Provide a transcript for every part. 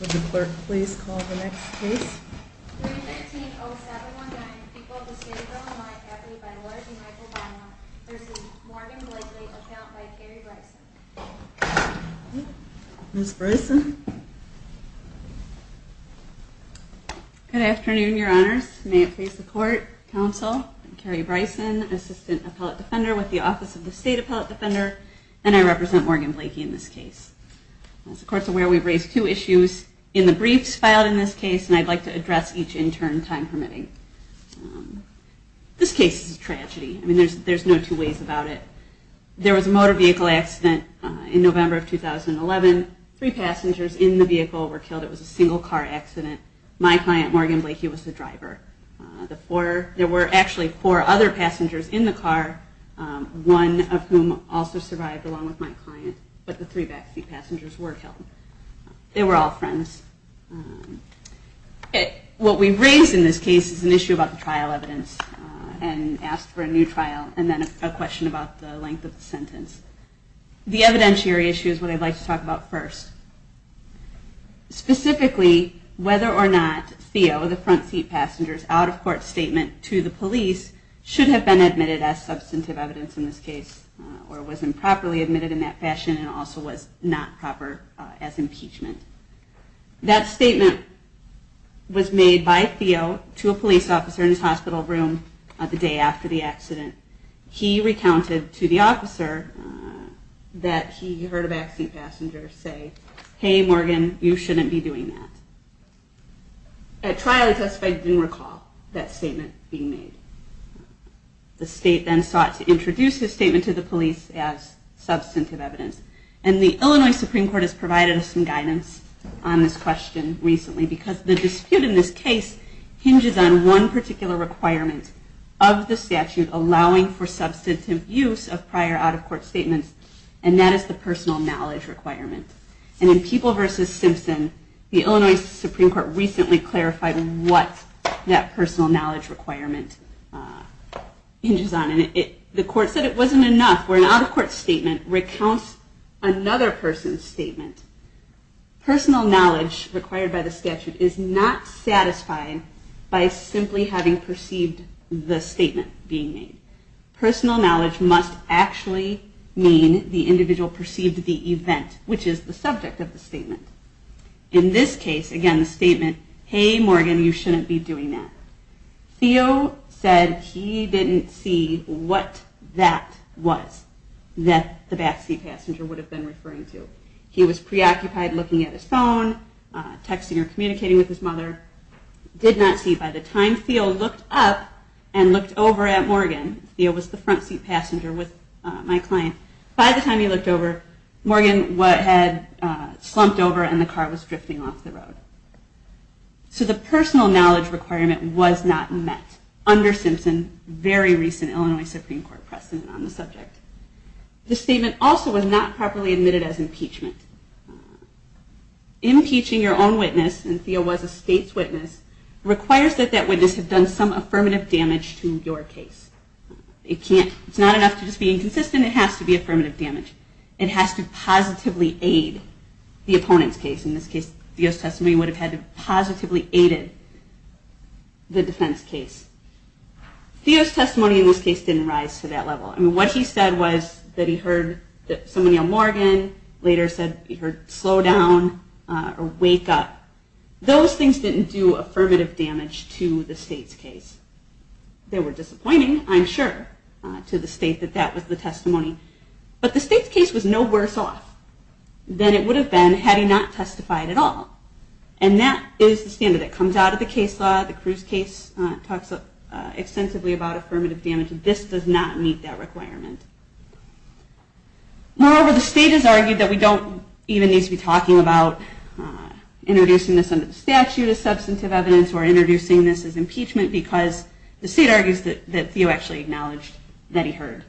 Would the clerk please call the next case? 319-0719, People of the State of Illinois, accompanied by Laura D. Michael Bynum v. Morgan Blakey, account by Carrie Bryson. Ms. Bryson? Good afternoon, Your Honors. May it please the Court, Counsel, Carrie Bryson, Assistant Appellate Defender with the Office of the State Appellate Defender, and I represent Morgan Blakey in this case. As the Court is aware, we've raised two issues in the briefs filed in this case, and I'd like to address each in turn, time permitting. This case is a tragedy. There's no two ways about it. There was a motor vehicle accident in November of 2011. Three passengers in the vehicle were killed. It was a single car accident. My client, Morgan Blakey, was the driver. There were actually four other passengers in the car, one of whom also survived, along with my client, but the three backseat passengers were killed. They were all friends. What we've raised in this case is an issue about the trial evidence, and asked for a new trial, and then a question about the length of the sentence. The evidentiary issue is what I'd like to talk about first. Specifically, whether or not Theo, the front seat passenger's out-of-court statement to the police should have been admitted as substantive evidence in this case, or was improperly admitted in that fashion, and also was not proper as impeachment. That statement was made by Theo to a police officer in his hospital room the day after the accident. He recounted to the officer that he heard a backseat passenger say, hey Morgan, you shouldn't be doing that. At trial, the testifier didn't recall that statement being made. The state then sought to introduce his statement to the police as substantive evidence. And the Illinois Supreme Court has provided us some guidance on this question recently, because the dispute in this case hinges on one particular requirement of the statute allowing for substantive use of prior out-of-court statements, and that is the personal knowledge requirement. And in People versus Simpson, the Illinois Supreme Court recently clarified what that personal knowledge requirement hinges on. And the court said it wasn't enough where an out-of-court statement recounts another person's statement. Personal knowledge required by the statute is not satisfied by simply having perceived the statement being made. Personal knowledge must actually mean the individual perceived the event, which is the subject of the statement. In this case, again, the statement, hey Morgan, you shouldn't be doing that. Theo said he didn't see what that was that the backseat passenger would have been referring to. He was preoccupied looking at his phone, texting or communicating with his mother. Did not see by the time Theo looked up and looked over at Morgan. Theo was the front seat passenger with my client. By the time he looked over, Morgan had slumped over and the car was drifting off the road. So the personal knowledge requirement was not met under Simpson's very recent Illinois Supreme Court precedent on the subject. The statement also was not properly admitted as impeachment. Impeaching your own witness, and Theo was a state's witness, requires that that witness have done some affirmative damage to your case. It's not enough to just be inconsistent, it has to be affirmative damage. It has to positively aid the opponent's case. In this case, Theo's testimony would have had to positively aid the defense case. Theo's testimony in this case didn't rise to that level. What he said was that he heard somebody on Morgan, later said he heard, slow down or wake up. Those things didn't do affirmative damage to the state's case. They were disappointing, I'm sure, to the state that that was the testimony. But the state's case was no worse off than it would have been had he not testified at all. And that is the standard that comes out of the case law. The Cruz case talks extensively about affirmative damage. This does not meet that requirement. Moreover, the state has argued that we don't even need to be talking about introducing this under the statute as substantive evidence or introducing this as impeachment because the state argues that Theo actually acknowledged that he heard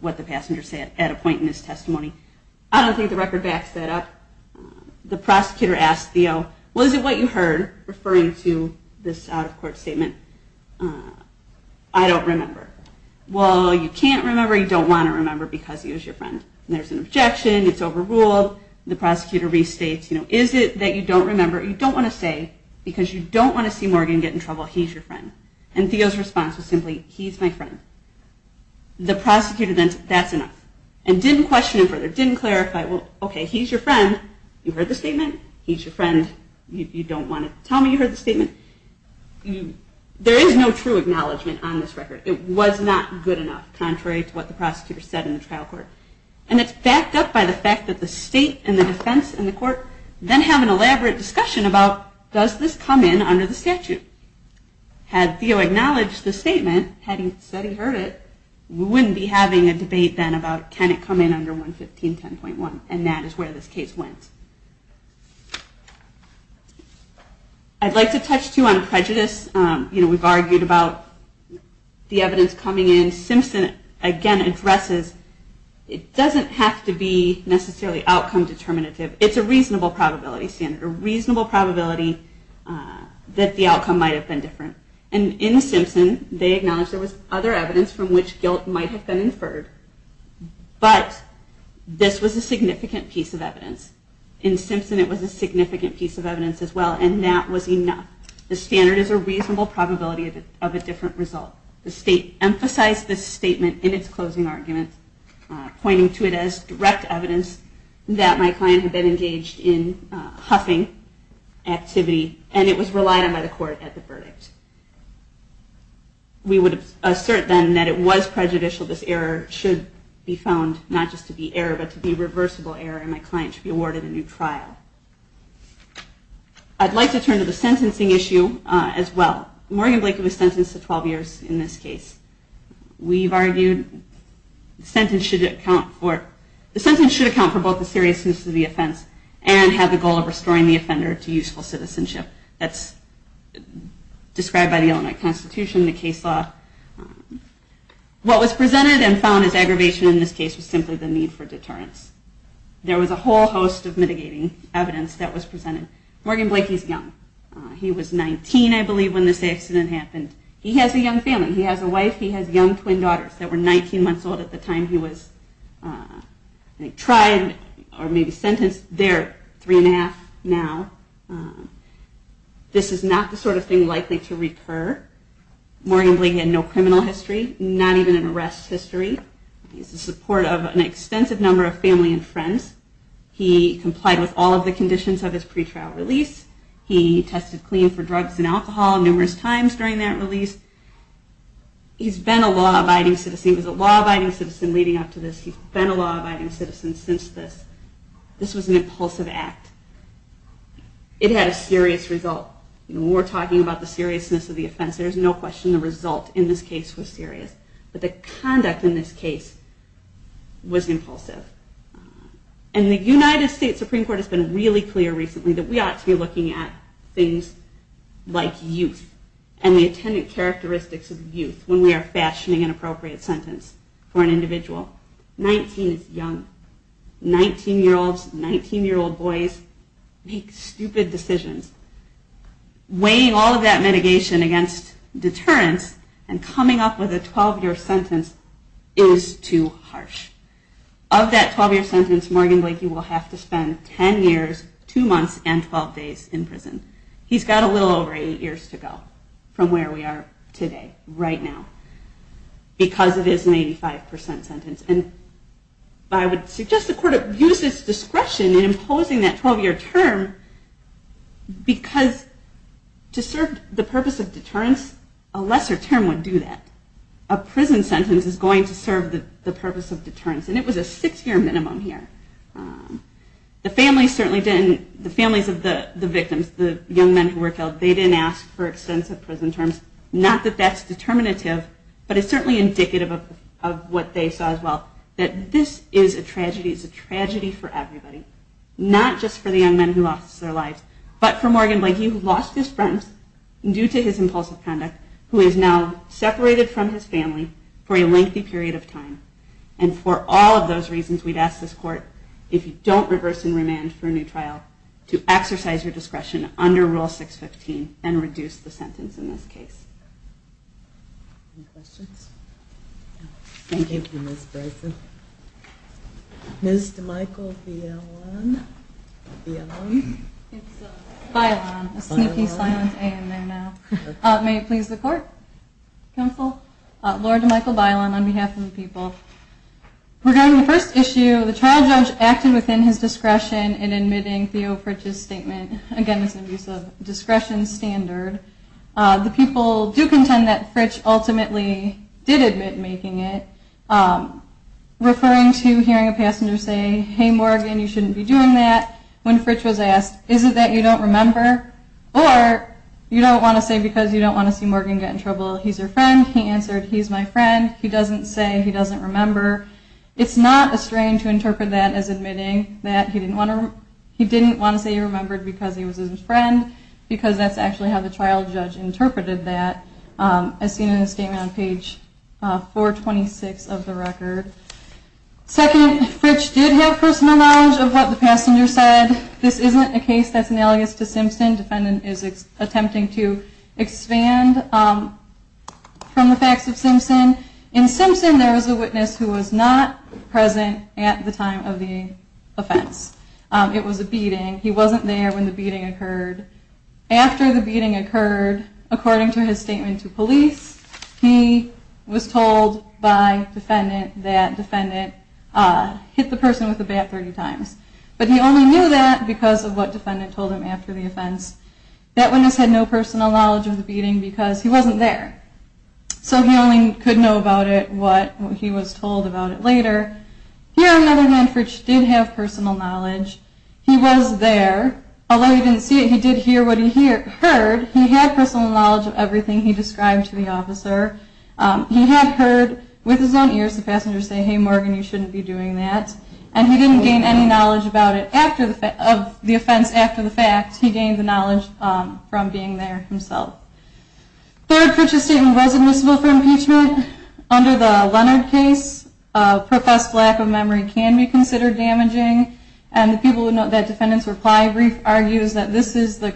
what the passenger said at a point in his testimony. I don't think the record backs that up. The prosecutor asked Theo, was it what you heard referring to this out-of-court statement? I don't remember. Well, you can't remember or you don't want to remember because he was your friend. There's an objection, it's overruled, the prosecutor restates, is it that you don't remember or you don't want to say because you don't want to see Morgan get in trouble, he's your friend. And Theo's response was simply, he's my friend. The prosecutor then said, that's enough. And didn't question him further, didn't clarify, well, okay, he's your friend, you heard the statement, he's your friend, you don't want to tell me you heard the statement. There is no true acknowledgement on this record. It was not good enough, contrary to what the prosecutor said in the trial court. And it's backed up by the fact that the state and the defense and the court then have an elaborate discussion about does this come in under the statute. Had Theo acknowledged the statement, had he said he heard it, we wouldn't be having a debate then about can it come in under 11510.1 and that is where this case went. I'd like to touch too on prejudice. We've argued about the evidence coming in. Simpson again addresses it doesn't have to be necessarily outcome determinative, it's a reasonable probability standard. A reasonable probability that the outcome might have been different. And in Simpson they acknowledge there was other evidence from which guilt might have been inferred, but this was a significant piece of evidence. In Simpson it was a significant piece of evidence as well and that was enough. The standard is a reasonable probability of a different result. The state emphasized this statement in its closing argument, pointing to it as direct evidence that my client had been engaged in huffing activity and it was relied on by the court at the verdict. We would assert then that it was prejudicial, this error should be found not just to be error but to be reversible error and my client should be awarded a new trial. I'd like to turn to the sentencing issue as well. Morgan Blakely was sentenced to 12 years in this case. The sentence should account for both the seriousness of the offense and have the goal of restoring the offender to useful citizenship. That's described by the Illinois Constitution, the case law. What was presented and found as aggravation in this case was simply the need for deterrence. There was a whole host of mitigating evidence that was presented. Morgan Blakely is young, he was 19 I believe when this accident happened. He has a young family, he has a wife, he has young twin daughters that were 19 months old at the time he was tried or maybe sentenced. They're three and a half now. This is not the sort of thing likely to recur. Morgan Blakely had no criminal history, not even an arrest history. He's the support of an extensive number of family and friends. He complied with all of the conditions of his pre-trial release. He tested clean for drugs and alcohol numerous times during that release. He's been a law-abiding citizen leading up to this. He's been a law-abiding citizen since this. This was an impulsive act. It had a serious result. We're talking about the seriousness of the offense, there's no question the result in this case was serious. But the conduct in this case was impulsive. And the United States Supreme Court has been really clear recently that we ought to be looking at things like youth and the attendant characteristics of youth when we are fashioning an appropriate sentence for an individual. 19 year olds, 19 year old boys make stupid decisions. Weighing all of that mitigation against deterrence and coming up with a 12 year sentence is too harsh. Of that 12 year sentence, Morgan Blakey will have to spend 10 years, 2 months, and 12 days in prison. He's got a little over 8 years to go from where we are today, right now. Because it is an 85% sentence. I would suggest the court use its discretion in imposing that 12 year term because to serve the purpose of deterrence, a lesser term would do that. A prison sentence is going to serve the purpose of deterrence. And it was a 6 year minimum here. The families of the victims, the young men who were killed, they didn't ask for extensive prison terms. Not that that's determinative, but it's certainly indicative of what they saw as well. That this is a tragedy, it's a tragedy for everybody. Not just for the young men who lost their lives, but for Morgan Blakey who lost his friends due to his impulsive conduct, who is now separated from his family for a lengthy period of time. And for all of those reasons, we'd ask this court, if you don't reverse and remand for a new trial, to exercise your discretion under Rule 615 and reduce the sentence in this case. Any questions? Thank you, Ms. Bryson. Ms. DeMichael Bylon. It's Bylon, a sneaky silent A in there now. May it please the court, counsel. Laura DeMichael Bylon on behalf of the people. Regarding the first issue, the trial judge acted within his discretion in admitting Theo Fritsch's statement. Again, it's an abuse of discretion standard. The people do contend that Fritsch ultimately did admit making it. Referring to hearing a passenger say, hey Morgan, you shouldn't be doing that. When Fritsch was asked, is it that you don't remember? Or you don't want to say because you don't want to see Morgan get in trouble, he's your friend. He answered, he's my friend. He doesn't say, he doesn't remember. It's not a strain to interpret that as admitting that he didn't want to say he remembered because he was his friend. Because that's actually how the trial judge interpreted that. As seen in his statement on page 426 of the record. Second, Fritsch did have personal knowledge of what the passenger said. Again, this isn't a case that's analogous to Simpson. Defendant is attempting to expand from the facts of Simpson. In Simpson, there was a witness who was not present at the time of the offense. It was a beating. He wasn't there when the beating occurred. After the beating occurred, according to his statement to police, he was told by defendant that defendant hit the person with the bat 30 times. But he only knew that because of what defendant told him after the offense. That witness had no personal knowledge of the beating because he wasn't there. So he only could know about it what he was told about it later. Here on the other hand, Fritsch did have personal knowledge. He was there. Although he didn't see it, he did hear what he heard. He had personal knowledge of everything he described to the officer. He had heard with his own ears the passenger say, hey Morgan, you shouldn't be doing that. And he didn't gain any knowledge of the offense after the fact. He gained the knowledge from being there himself. Third, Fritsch's statement was admissible for impeachment. Under the Leonard case, professed lack of memory can be considered damaging. And the people who note that defendant's reply brief argues that this is a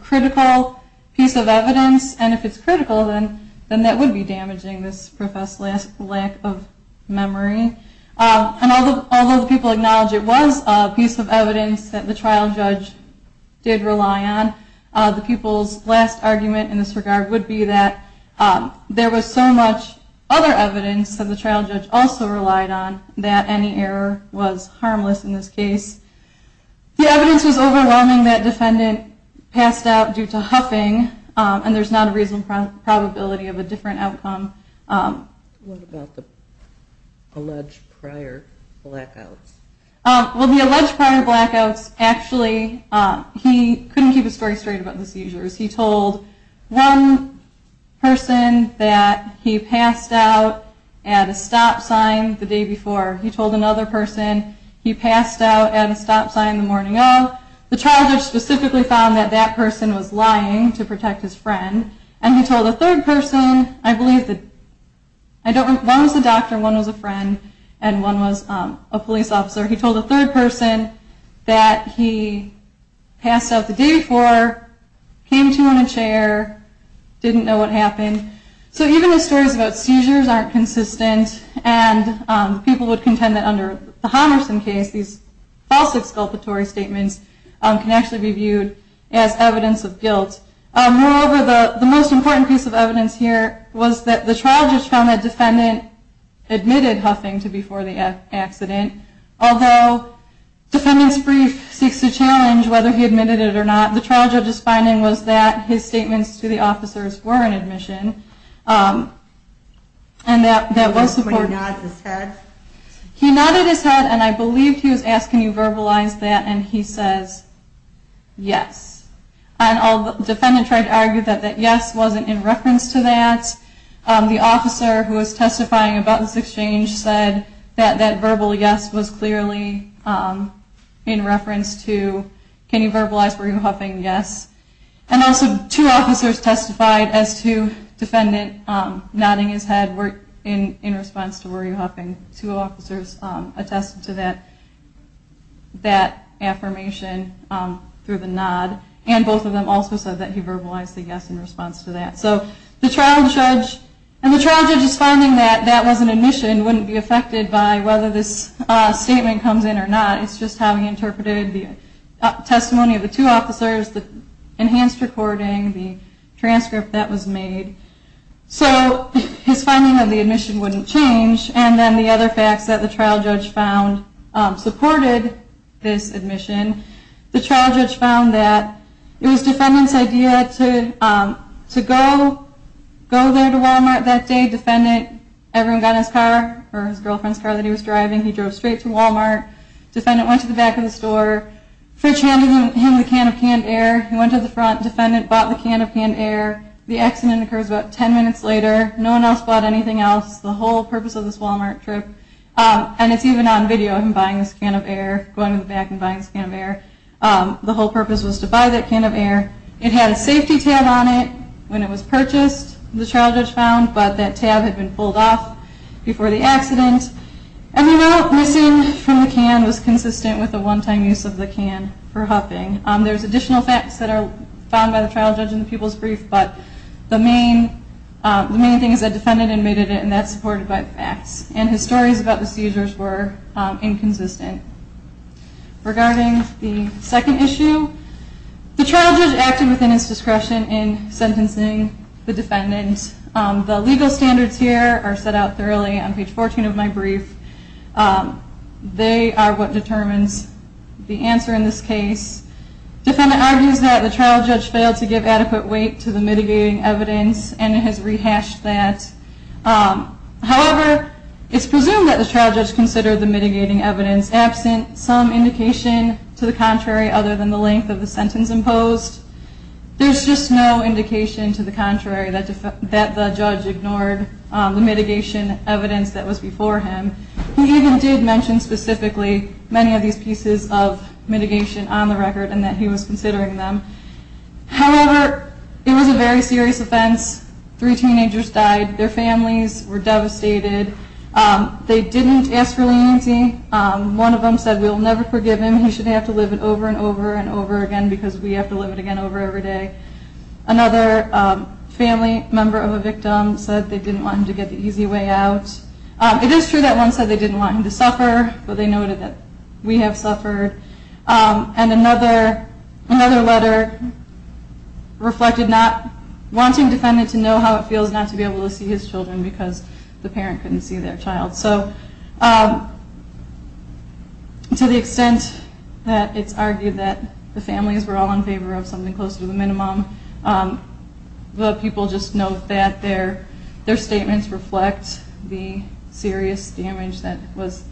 critical piece of evidence. And if it's critical, then that would be damaging, this professed lack of memory. And although the people acknowledge it was a piece of evidence that the trial judge did rely on, the people's last argument in this regard would be that there was so much other evidence that the trial judge also relied on that any error was harmless in this case. The evidence was overwhelming that defendant passed out due to huffing, and there's not a reasonable probability of a different outcome. What about the alleged prior blackouts? Well, the alleged prior blackouts, actually, he couldn't keep his story straight about the seizures. He told one person that he passed out at a stop sign the day before. He told another person he passed out at a stop sign the morning of. The trial judge specifically found that that person was lying to protect his friend. And he told a third person, I believe, one was a doctor, one was a friend, and one was a police officer. He told a third person that he passed out the day before, came to him in a chair, didn't know what happened. So even if stories about seizures aren't consistent, and people would contend that under the Homerson case, these false exculpatory statements can actually be viewed as evidence of guilt. Moreover, the most important piece of evidence here was that the trial judge found that defendant admitted huffing to before the accident, although defendant's brief seeks to challenge whether he admitted it or not. The trial judge's finding was that his statements to the officers were an admission, and that was supported. He nodded his head, and I believe he was asking, can you verbalize that, and he says, yes. Defendant tried to argue that yes wasn't in reference to that. The officer who was testifying about this exchange said that that verbal yes was clearly in reference to, can you verbalize were you huffing, yes. And also two officers testified as to defendant nodding his head in response to were you huffing. Two officers attested to that affirmation through the nod, and both of them also said that he verbalized the yes in response to that. And the trial judge's finding that that was an admission wouldn't be affected by whether this statement comes in or not, it's just how he interpreted the testimony of the two officers, the enhanced recording, the transcript that was made. So his finding of the admission wouldn't change, and then the other facts that the trial judge found supported this admission, the trial judge found that it was defendant's idea to go there to Walmart that day, defendant, everyone got in his car, or his girlfriend's car that he was driving, he drove straight to Walmart, defendant went to the back of the store, fridge handed him the can of canned air, he went to the front, defendant bought the can of canned air, the accident occurs about ten minutes later, no one else bought anything else, the whole purpose of this Walmart trip, and it's even on video of him buying this can of air, going to the back and buying this can of air, the whole purpose was to buy that can of air, it had a safety tab on it when it was purchased, the trial judge found, but that tab had been pulled off before the accident, everyone else missing from the can was consistent with the one-time use of the can for huffing. There's additional facts that are found by the trial judge in the people's brief, but the main thing is that defendant admitted it, and that's supported by facts, and his stories about the seizures were inconsistent. Regarding the second issue, the trial judge acted within his discretion in sentencing the defendant, the legal standards here are set out thoroughly on page 14 of my brief, they are what determines the answer in this case, defendant argues that the trial judge failed to give adequate weight to the mitigating evidence, and has rehashed that, however, it's presumed that the trial judge considered the mitigating evidence absent, some indication to the contrary other than the length of the sentence imposed, there's just no indication to the contrary that the judge ignored the mitigation evidence that was before him, he even did mention specifically many of these pieces of mitigation on the record, and that he was considering them, however, it was a very serious offense, three teenagers died, their families were devastated, they didn't ask for leniency, one of them said we'll never forgive him, he should have to live it over and over and over again, because we have to live it again over every day, another family member of a victim said they didn't want him to get the easy way out, it is true that one said they didn't want him to suffer, but they noted that we have suffered, and another letter reflected not wanting defendant to know how it feels not to be able to see his children because the parent couldn't see their child, so to the extent that it's argued that the families were all in favor of something close to the minimum, the people just note that their statements reflect the serious damage that was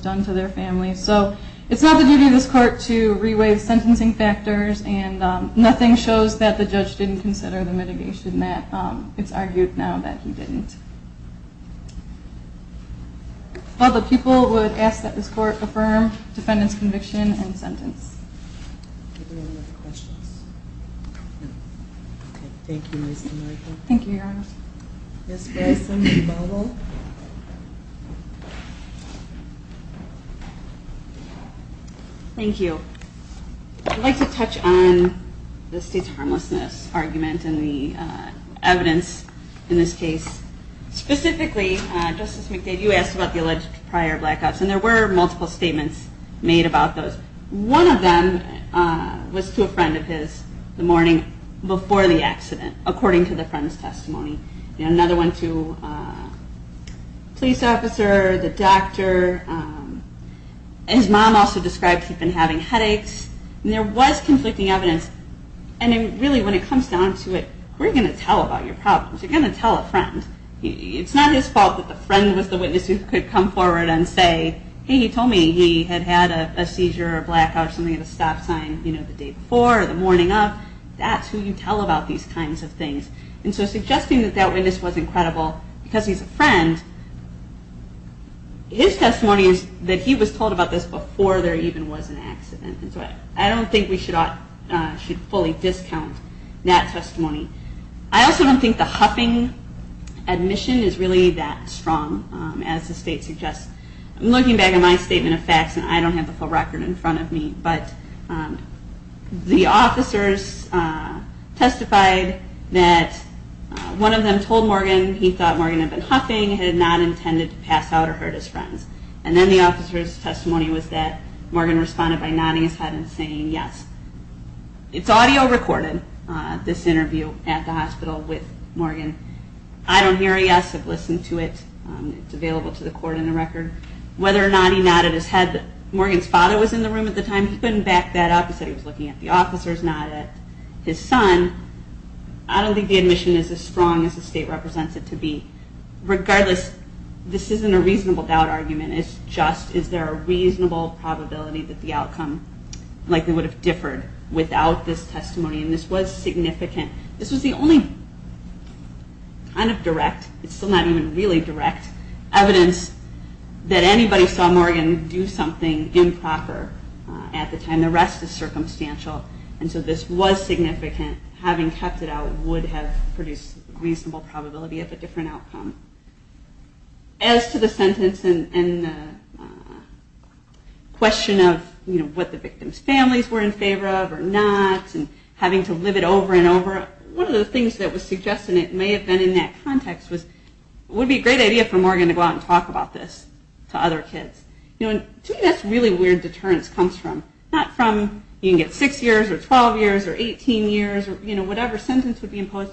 done to their families, so it's not the duty of this court to reweigh the sentencing factors, and nothing shows that the judge didn't consider the mitigation that it's argued now that he didn't. All the people would ask that this court affirm defendant's conviction and sentence. Any other questions? Thank you. Thank you. I'd like to touch on the state's harmlessness argument and the evidence in this case, specifically, Justice McDade, you asked about the alleged prior blackouts, and there were multiple statements made about those. One of them was to a friend of his the morning before the accident, according to the friend's testimony. Another one to a police officer, the doctor, his mom also described he'd been having headaches, and there was conflicting evidence, and really when it comes down to it, who are you going to tell about your problems? You're going to tell a friend. It's not his fault that the friend was the witness who could come forward and say, hey, he told me he had had a seizure or blackout or something at a stop sign, you know, the day before or the morning of. That's who you tell about these kinds of things. And so suggesting that that witness was incredible because he's a friend, his testimony is that he was told about this before there even was an accident, and so I don't think we should fully discount that testimony. I also don't think the huffing admission is really that strong, as the state suggests. I'm looking back at my statement of facts, and I don't have the full record in front of me, but the officers testified that one of them told Morgan he thought Morgan had been huffing, had not intended to pass out or hurt his friends. And then the officer's testimony was that Morgan responded by nodding his head and saying yes. It's audio recorded, this interview at the hospital with Morgan. I don't hear a yes. I've listened to it. It's available to the court in the record. Whether or not he nodded his head, Morgan's father was in the room at the time. He couldn't back that up. He said he was looking at the officers, not at his son. I don't think the testimony is as strong as the state represents it to be. Regardless, this isn't a reasonable doubt argument. It's just, is there a reasonable probability that the outcome likely would have differed without this testimony? And this was significant. This was the only kind of direct, it's still not even really direct, evidence that anybody saw Morgan do something improper at the time. The rest is reasonable probability of a different outcome. As to the sentence and the question of what the victim's families were in favor of or not and having to live it over and over, one of the things that was suggested and it may have been in that context was it would be a great idea for Morgan to go out and talk about this to other kids. To me that's really where deterrence comes from. Not from you can get 6 years or 12 years or 18 years or whatever sentence would be imposed.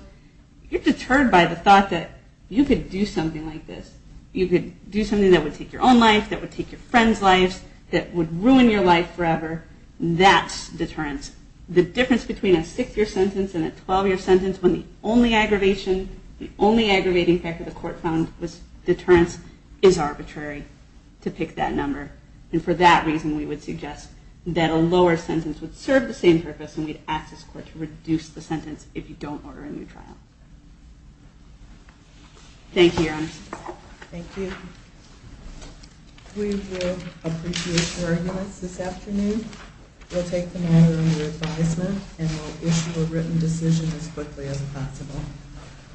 You're deterred by the thought that you could do something like this. You could do something that would take your own life, that would take your friend's life, that would ruin your life forever. That's deterrence. The difference between a 6 year sentence and a 12 year sentence when the only aggravation, the only aggravating factor the court found was deterrence is arbitrary to pick that number. And for that reason we would suggest that a lower sentence would serve the same purpose and we'd ask this court to reduce the sentence if you don't order a new trial. Thank you Your Honor. Thank you. We will appreciate your arguments this afternoon. We'll take them all under advisement and we'll issue a written decision as quickly as possible.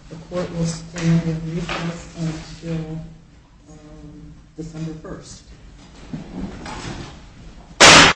The court will stand in recess until December 1st.